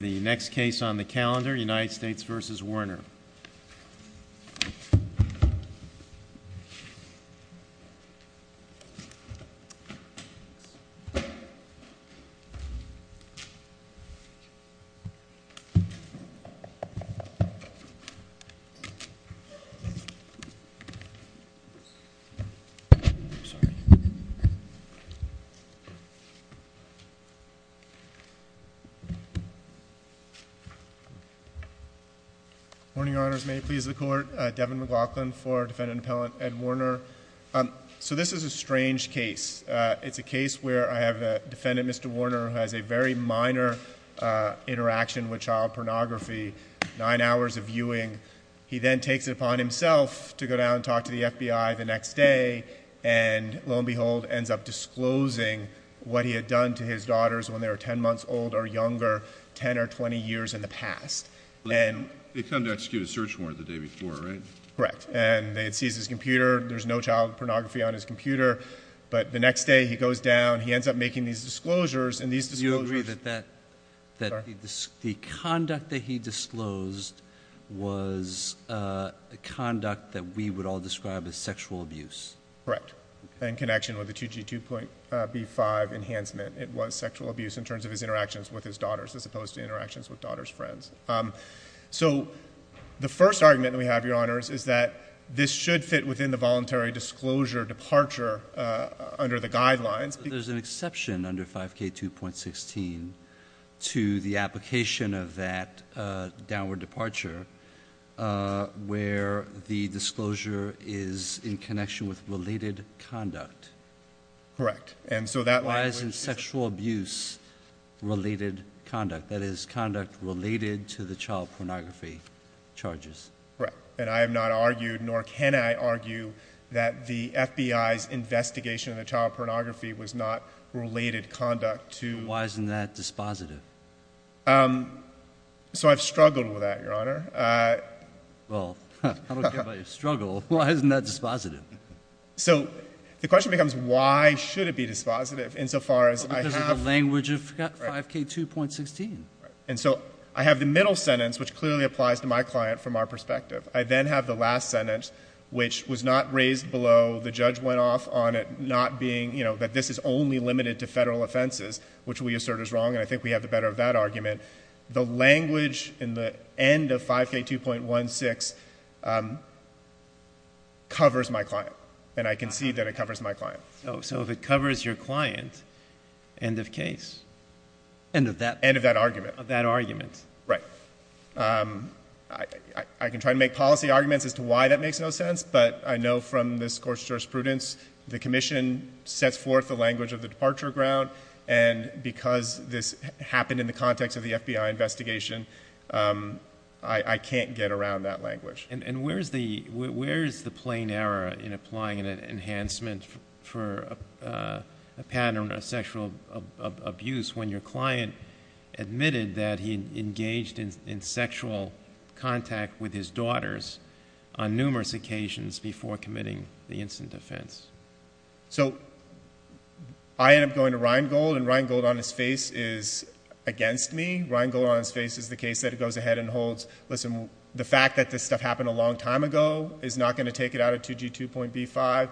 The next case on the calendar, United States v. Warner. Morning, Your Honors. May it please the Court. Devin McLaughlin for Defendant Appellant Ed Warner. So this is a strange case. It's a case where I have a defendant, Mr. Warner, who has a very minor interaction with child pornography, nine hours of viewing. He then takes it upon himself to go down and talk to the FBI the next day and lo and behold ends up disclosing what he had done to his daughters when they were ten months old or younger, ten or twenty years in the past. They come to execute a search warrant the day before, right? Correct. And they seize his computer. There's no child pornography on his computer. But the next day he goes down. He ends up making these disclosures and these disclosures. Do you agree that the conduct that he disclosed was conduct that we would all describe as sexual abuse? Correct. And in connection with the 2G2.B5 enhancement, it was sexual abuse in terms of his interactions with his daughters as opposed to interactions with daughters' friends. So the first argument we have, Your Honors, is that this should fit within the voluntary disclosure departure under the guidelines. There's an exception under 5K2.16 to the application of that downward departure where the disclosure is in connection with related conduct. Correct. Why isn't sexual abuse related conduct, that is, conduct related to the child pornography charges? Correct. And I have not argued nor can I argue that the FBI's investigation of the child pornography was not related conduct to... Why isn't that dispositive? So I've struggled with that, Your Honor. Well, I don't care why it's not dispositive. So the question becomes why should it be dispositive insofar as I have... Because of the language of 5K2.16. And so I have the middle sentence, which clearly applies to my client from our perspective. I then have the last sentence, which was not raised below. The judge went off on it not being, you know, that this is only limited to Federal offenses, which we assert is wrong, and I think we have the better of that argument. The language in the end of 5K2.16 covers my client, and I concede that it covers my client. So if it covers your client, end of case. End of that argument. Right. I can try to make policy arguments as to why that makes no sense, but I know from this Court's jurisprudence the Commission sets forth the language of the departure ground, and because this happened in the context of the FBI investigation, I can't get around that language. And where's the plain error in applying an enhancement for a pattern of sexual abuse when your client admitted that he engaged in sexual contact with his daughters on numerous occasions before committing the instant offense? So I end up going to Rheingold, and Rheingold on his face is against me. Rheingold on his face is the case that goes ahead and holds, listen, the fact that this stuff happened a long time ago is not going to take it out of 2G2.B5.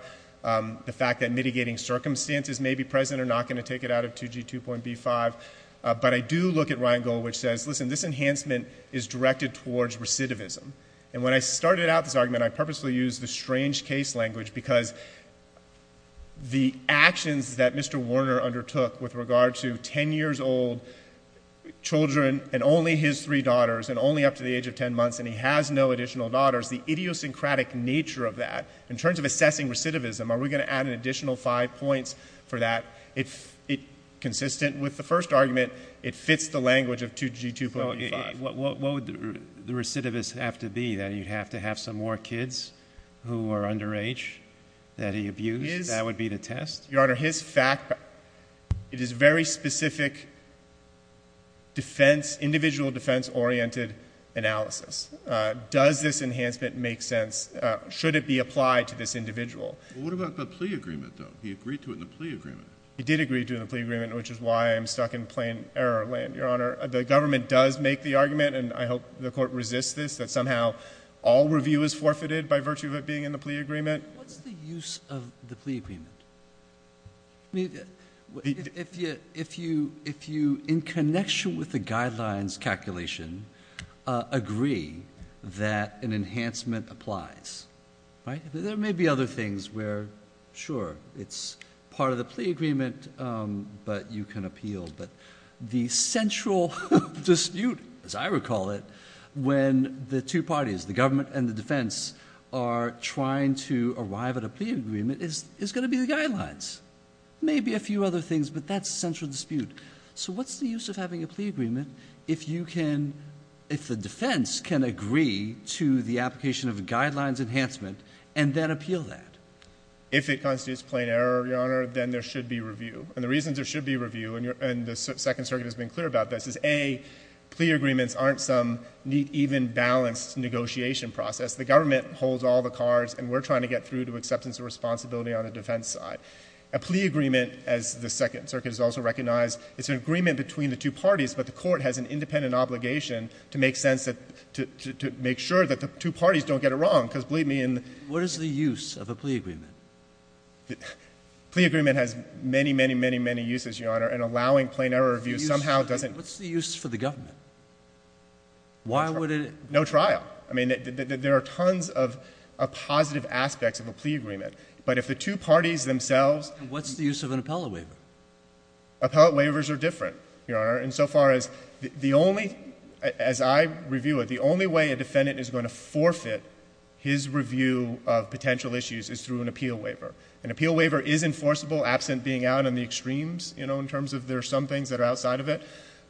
The fact that mitigating circumstances may be present are not going to take it out of 2G2.B5. But I do look at Rheingold, which says, listen, this enhancement is directed towards recidivism. And when I started out this argument, I purposely used the strange case language because the actions that Mr. Warner undertook with regard to ten years old children and only his three daughters and only up to the age of ten months and he has no additional daughters, the idiosyncratic nature of that, in terms of assessing recidivism, are we going to add an additional five points for that? Consistent with the first argument, it fits the language of 2G2.B5. What would the recidivist have to be? That he'd have to have some more kids who are under age that he abused? That would be the test? Your Honor, his fact, it is very specific defense, individual defense-oriented analysis. Does this enhancement make sense? Should it be applied to this individual? Well, what about the plea agreement, though? He agreed to it in the plea agreement. He did agree to it in the plea agreement, which is why I'm stuck in plain error land, Your Honor. The government does make the argument, and I hope the Court resists this, that somehow all review is forfeited by virtue of it being in the plea agreement. What's the use of the plea agreement? I mean, if you, in connection with the guidelines calculation, agree that an enhancement applies, right? There may be other things where, sure, it's part of the plea agreement, but you can appeal. But the central dispute, as I recall it, when the two parties, the government and the defense, are trying to arrive at a plea agreement is going to be the guidelines. Maybe a few other things, but that's central dispute. So what's the use of having a plea agreement if you can, if the defense can agree to the application of a guidelines enhancement and then appeal that? If it constitutes plain error, Your Honor, then there should be review. And the reason there should be review, and the Second Circuit has been clear about this, is, A, plea agreements aren't some neat, even, balanced negotiation process. The government holds all the cards, and we're trying to get through to acceptance of responsibility on the defense side. A plea agreement, as the Second Circuit has also recognized, it's an agreement between the two parties, but the Court has an independent obligation to make sense of, to make sure that the two parties don't get it wrong, because, believe me, in the— What is the use of a plea agreement? Plea agreement has many, many, many, many uses, Your Honor, and allowing plain error review somehow doesn't— What's the use for the government? Why would it— No trial. I mean, there are tons of positive aspects of a plea agreement, but if the two parties themselves— And what's the use of an appellate waiver? Appellate waivers are different, Your Honor, insofar as the only, as I review it, the only way a defendant is going to forfeit his review of potential issues is through an appeal waiver. An appeal waiver is enforceable, absent being out on the extremes, you know, in terms of there are some things that are outside of it,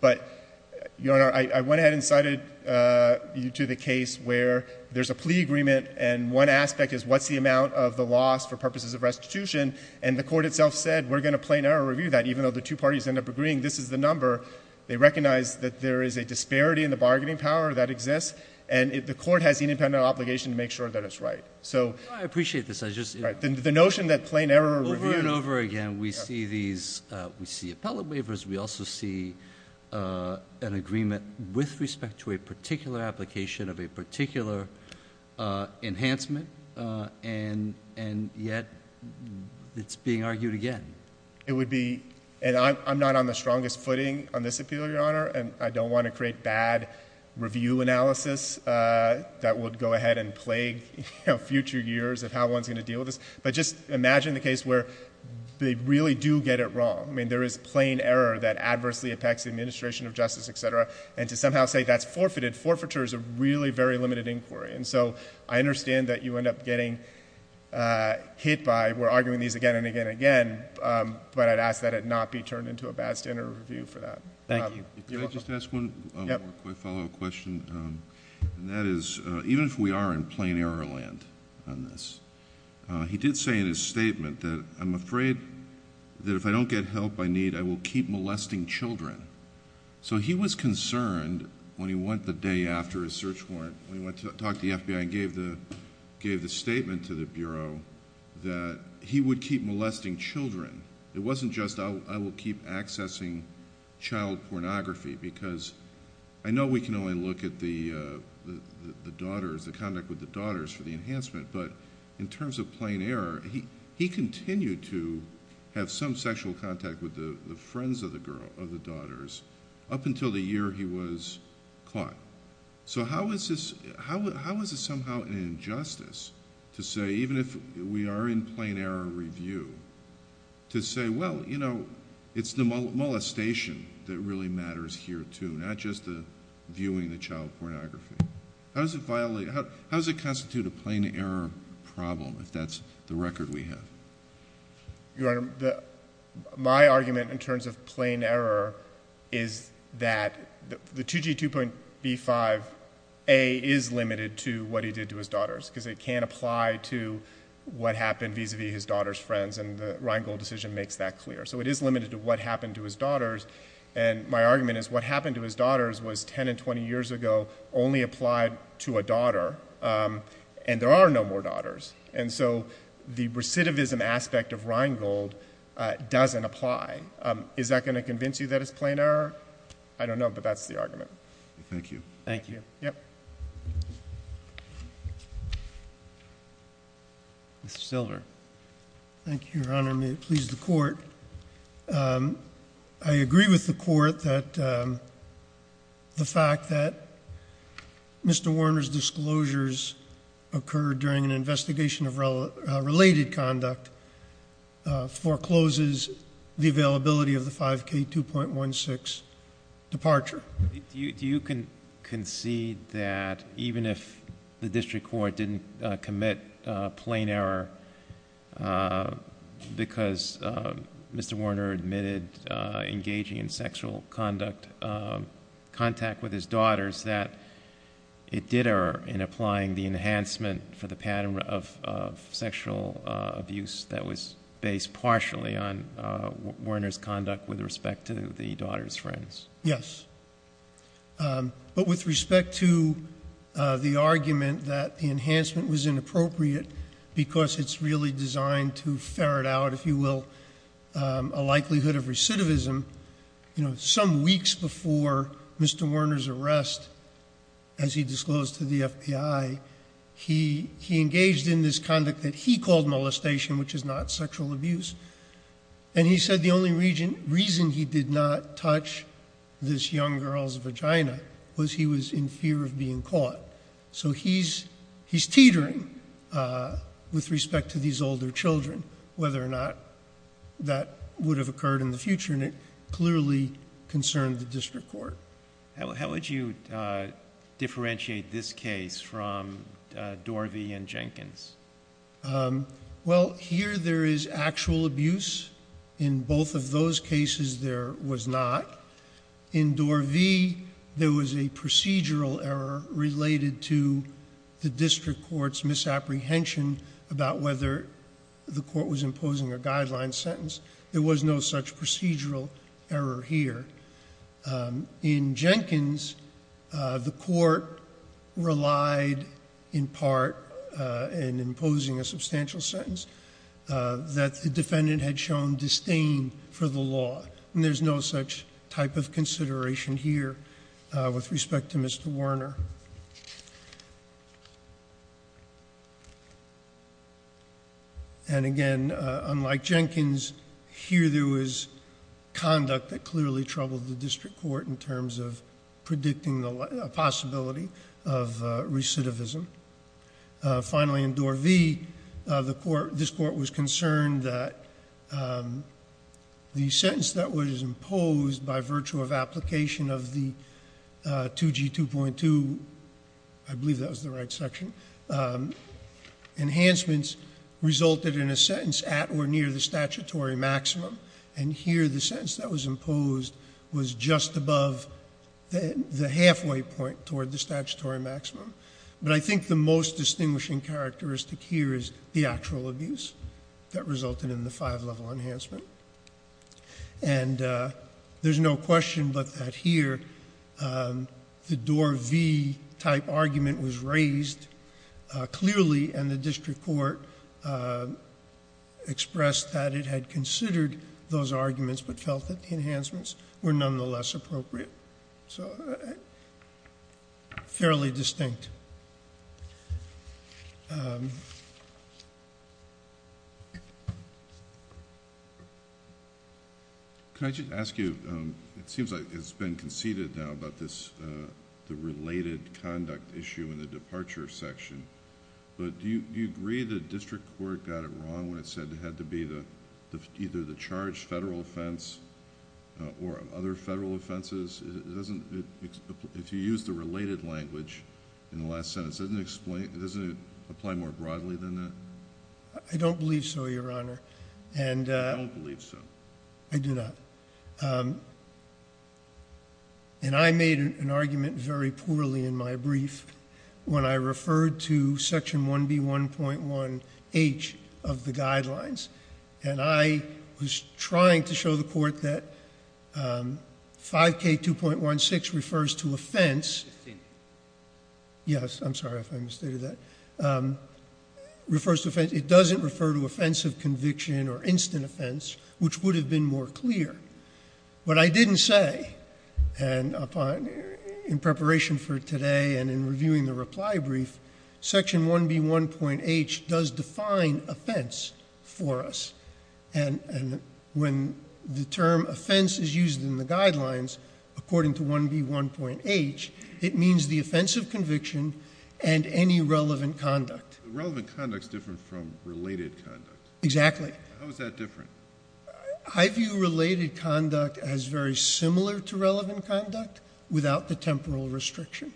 but, Your Honor, I went ahead and cited you to the case where there's a plea agreement, and one aspect is what's the amount of the loss for purposes of restitution, and the Court itself said, we're going to plain error review that, even though the two parties end up agreeing this is the number, they recognize that there is a disparity in the bargaining power that exists, and the Court has the independent obligation to make sure that it's right. I appreciate this. I just— The notion that plain error review— Over and over again, we see these—we see appellate waivers. We also see an agreement with respect to a particular application of a particular enhancement, and yet it's being argued again. It would be—and I'm not on the strongest footing on this appeal, Your Honor, and I don't want to create bad review analysis that would go ahead and plague, you know, future years of how one's going to deal with this, but just imagine the case where they really do get it wrong. I mean, there is plain error that adversely affects the administration of justice, et cetera, and to somehow say that's forfeited, forfeiture is a really very limited inquiry, and so I understand that you end up getting hit by, we're arguing these things again and again and again, but I'd ask that it not be turned into a bad standard of review for that. Thank you. You're welcome. Can I just ask one more quick follow-up question, and that is, even if we are in plain error land on this, he did say in his statement that, I'm afraid that if I don't get help I need, I will keep molesting children. So he was concerned when he went the day after his search warrant, when he went to talk to the FBI and gave the statement to the Bureau that he would keep molesting children. It wasn't just I will keep accessing child pornography, because I know we can only look at the daughters, the conduct with the daughters for the enhancement, but in terms of plain error, he continued to have some sexual contact with the friends of the daughters up until the year he was caught. So how is this somehow an injustice to say, even if we are in plain error review, to say, well, you know, it's the molestation that really matters here too, not just the viewing the child pornography? How does it violate, how does it constitute a plain error problem if that's the record we have? Your Honor, my argument in terms of plain error is that the 2G2.B5A is limited to what can apply to what happened vis-a-vis his daughter's friends and the Rheingold decision makes that clear. So it is limited to what happened to his daughters, and my argument is what happened to his daughters was 10 and 20 years ago only applied to a daughter, and there are no more daughters. And so the recidivism aspect of Rheingold doesn't apply. Is that going to convince you that it's plain error? I don't know, but that's the argument. Thank you. Thank you. Mr. Silver. Thank you, Your Honor. May it please the Court. I agree with the Court that the fact that Mr. Warner's disclosures occurred during an investigation of related conduct forecloses the availability of the 5K2.16 departure. Do you concede that even if the District Court didn't commit plain error because Mr. Warner admitted engaging in sexual contact with his daughters, that it did err in applying the Warner's conduct with respect to the daughters' friends? Yes. But with respect to the argument that the enhancement was inappropriate because it's really designed to ferret out, if you will, a likelihood of recidivism, you know, some weeks before Mr. Warner's arrest, as he disclosed to the FBI, he engaged in this and he said the only reason he did not touch this young girl's vagina was he was in fear of being caught. So he's teetering with respect to these older children, whether or not that would have occurred in the future, and it clearly concerned the District Court. How would you differentiate this case from Dorvey and Jenkins? Well, here there is actual abuse. In both of those cases, there was not. In Dorvey, there was a procedural error related to the District Court's misapprehension about whether the court was imposing a guideline sentence. There was no such procedural error here. In Dorvey, there was a procedural error in imposing a substantial sentence that the defendant had shown disdain for the law, and there's no such type of consideration here with respect to Mr. Warner. And again, unlike Jenkins, here there was conduct that clearly troubled the District Court in terms of predicting the possibility of recidivism. Finally, in Dorvey, this Court was concerned that the sentence that was imposed by virtue of application of the 2G2.2, I believe that was the right section, enhancements resulted in a sentence at or near the statutory maximum, and here the sentence that was imposed was just above the halfway point toward the statutory maximum. But I think the most distinguishing characteristic here is the actual abuse that resulted in the five-level enhancement. And there's no question but that here the Dorvey-type argument was raised clearly, and the District Court expressed that it had considered those arguments but felt that the enhancements were nonetheless appropriate. So, fairly distinct. Can I just ask you, it seems like it's been conceded now about the related conduct issue in the departure section, but do you agree the District Court got it wrong when it said it had to be either the charged federal offense or other federal offenses? If you use the related language in the last sentence, doesn't it apply more broadly than that? I don't believe so, Your Honor. You don't believe so? I do not. And I made an argument very poorly in my brief when I referred to Section 1B1.1H of the guidelines, and I was trying to show the Court that 5K2.16 refers to offense. Yes, I'm sorry if I misstated that. It doesn't refer to offensive conviction or instant offense, which would have been more clear. But I didn't say, and in preparation for today and in reviewing the reply brief, Section 1B1.1H does define offense for us. And when the term offense is used in the guidelines, according to 1B1.1H, it means the offense of conviction and any relevant conduct. Relevant conduct is different from related conduct. Exactly. How is that different? I view related conduct as very similar to relevant conduct without the temporal restriction.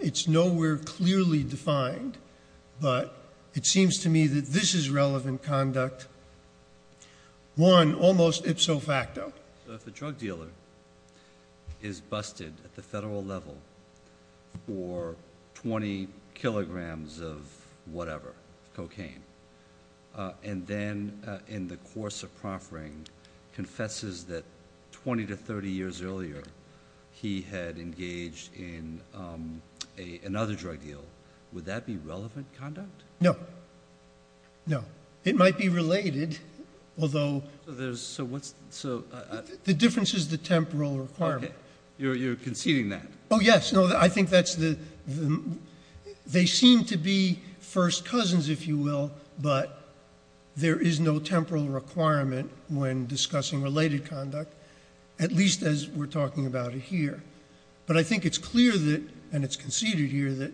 It's nowhere clearly defined, but it seems to me that this is relevant conduct. One, almost ipso facto. So if a drug dealer is busted at the federal level for 20 kilograms of whatever, cocaine, and then in the course of proffering confesses that 20 to 30 years earlier he had engaged in another drug deal, would that be relevant conduct? No. No. It might be related, although the difference is the temporal requirement. You're conceding that. Oh, yes. No, I think they seem to be first cousins, if you will, but there is no temporal requirement when discussing related conduct, at least as we're talking about it here. But I think it's clear that, and it's conceded here, that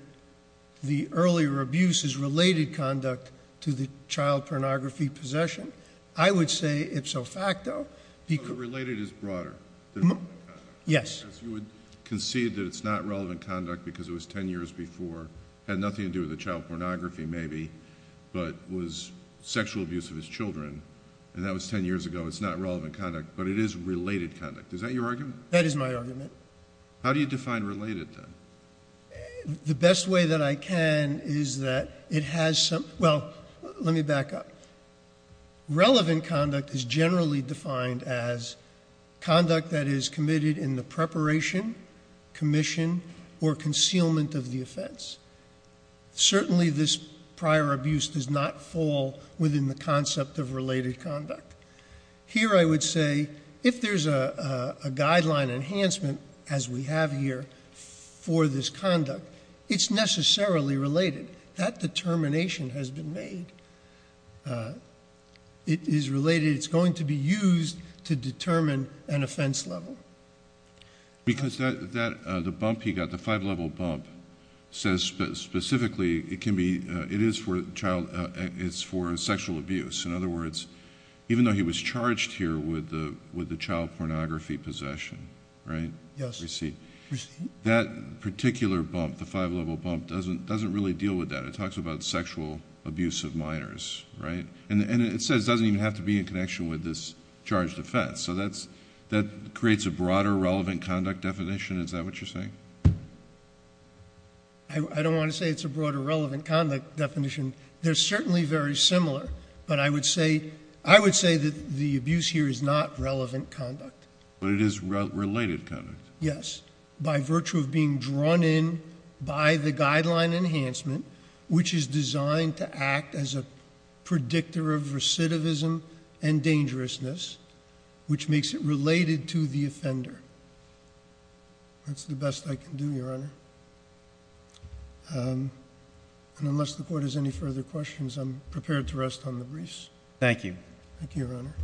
the earlier abuse is related conduct to the child pornography possession. I would say ipso facto. Related is broader than relevant conduct. Yes. Because you would concede that it's not relevant conduct because it was 10 years before, had nothing to do with the child pornography maybe, but was sexual abuse of his children, and that was 10 years ago. It's not relevant conduct, but it is related conduct. Is that your argument? That is my argument. How do you define related, then? The best way that I can is that it has some—well, let me back up. Relevant conduct is generally defined as conduct that is committed in the preparation, commission, or concealment of the offense. Certainly this prior abuse does not fall within the concept of related conduct. Here I would say if there's a guideline enhancement, as we have here, for this conduct, it's necessarily related. That determination has been made. It is related. It's going to be used to determine an offense level. Because the bump he got, the five-level bump, says specifically it can be—it is for child—it's for sexual abuse. In other words, even though he was charged here with the child pornography possession, right? Yes. Receipt. That particular bump, the five-level bump, doesn't really deal with that. It talks about sexual abuse of minors, right? And it says it doesn't even have to be in connection with this charged offense. So that creates a broader relevant conduct definition. Is that what you're saying? I don't want to say it's a broader relevant conduct definition. They're certainly very similar. But I would say that the abuse here is not relevant conduct. But it is related conduct. Yes. By virtue of being drawn in by the guideline enhancement, which is designed to act as a predictor of recidivism and dangerousness, which makes it related to the offender. That's the best I can do, Your Honor. And unless the Court has any further questions, I'm prepared to rest on the briefs. Thank you. Thank you, Your Honor.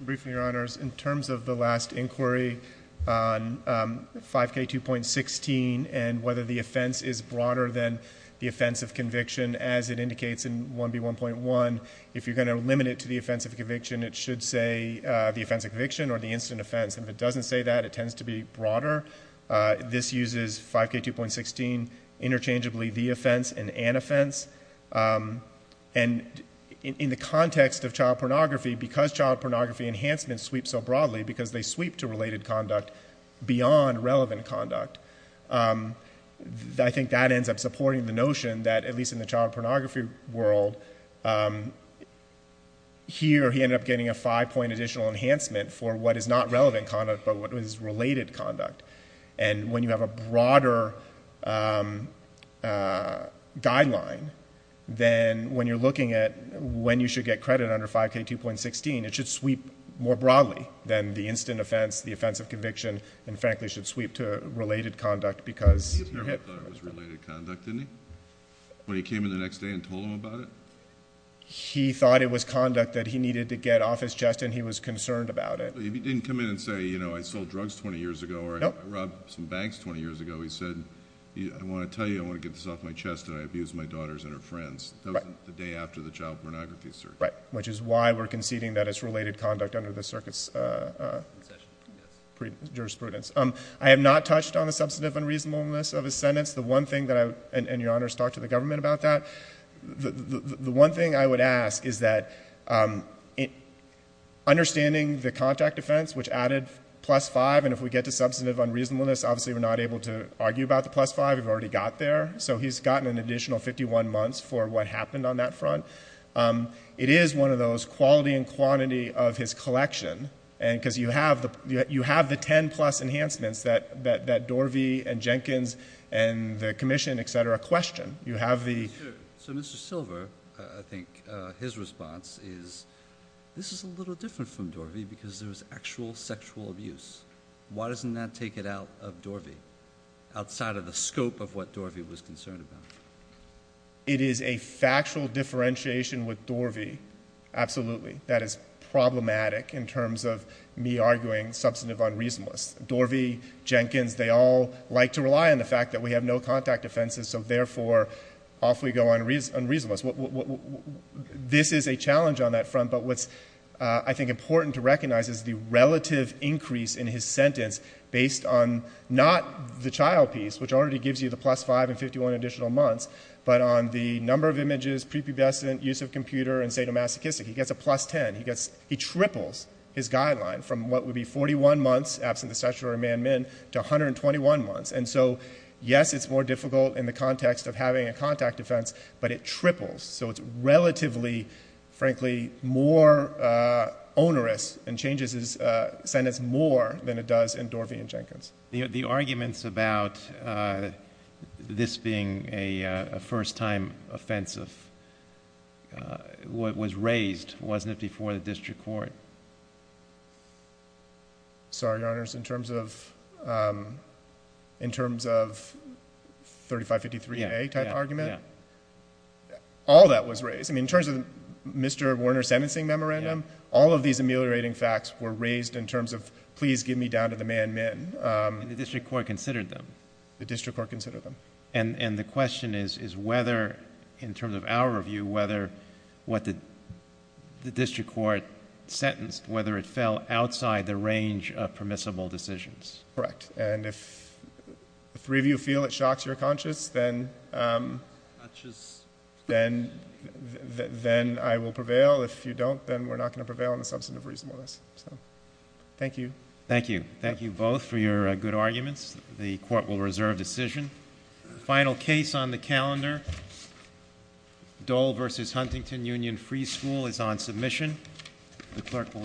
Briefing, Your Honors. In terms of the last inquiry on 5K2.16 and whether the offense is broader than the offense of conviction, as it indicates in 1B1.1, if you're going to limit it to the offense of conviction, it should say the offense of conviction or the incident offense. If it doesn't say that, it tends to be broader. This uses 5K2.16 interchangeably the offense and an offense. And in the context of child pornography, because child pornography enhancements sweep so broadly, because they sweep to related conduct beyond relevant conduct, I think that ends up supporting the notion that, at least in the child pornography world, here he ended up getting a five-point additional enhancement for what is not relevant conduct but what is related conduct. And when you have a broader guideline, then when you're looking at when you should get credit under 5K2.16, it should sweep more broadly than the incident offense, the offense of conviction, and frankly should sweep to related conduct because you're hit. He thought it was related conduct, didn't he? When he came in the next day and told him about it? He thought it was conduct that he needed to get off his chest and he was concerned about it. He didn't come in and say, you know, I sold drugs 20 years ago or I robbed some banks 20 years ago. He said, I want to tell you, I want to get this off my chest and I abused my daughters and her friends. That was the day after the child pornography circuit. Which is why we're conceding that it's related conduct under the circuit's jurisprudence. I have not touched on the substantive unreasonableness of his sentence. The one thing that I would — and your Honor has talked to the government about that — the one thing I would ask is that understanding the contact offense, which added plus five, and if we get to substantive unreasonableness, obviously we're not able to argue about the plus five. We've already got there. So he's gotten an additional 51 months for what happened on that front. It is one of those quality and quantity of his collection, because you have the 10-plus enhancements that Dorvey and Jenkins and the commission, et cetera, question. You have the — So Mr. Silver, I think his response is, this is a little different from Dorvey because there was actual sexual abuse. Why doesn't that take it out of Dorvey, outside of the scope of what Dorvey was concerned about? It is a factual differentiation with Dorvey, absolutely, that is problematic in terms of me arguing substantive unreasonableness. Dorvey, Jenkins, they all like to rely on the fact that we have no contact offenses, so therefore off we go on reasonableness. This is a challenge on that front, but what's, I think, important to recognize is the relative increase in his sentence based on not the child piece, which already gives you the plus five and 51 additional months, but on the number of images, prepubescent, use of computer, and sadomasochistic. He gets a plus 10. He triples his guideline from what would be 41 months absent the statutory man-min to 121 months. And so, yes, it's more difficult in the context of having a contact defense, but it triples. So it's relatively, frankly, more onerous and changes his sentence more than it does in Dorvey and Jenkins. The arguments about this being a first-time offense was raised, wasn't it, before the district court? Sorry, Your Honors. In terms of 3553A type argument, all that was raised. In terms of Mr. Warner's sentencing memorandum, all of these ameliorating facts were raised in terms of, please give me down to the man-min. And the district court considered them? The district court considered them. And the question is whether, in terms of our review, whether what the district court sentenced, whether it fell outside the range of permissible decisions? Correct. And if three of you feel it shocks your conscience, then I will prevail. If you don't, then we're not going to prevail on the substantive reasonableness. Thank you. Thank you. Thank you both for your good arguments. The Court will reserve decision. Final case on the calendar, Dole v. Huntington Union Free School, is on submission. The Clerk will adjourn.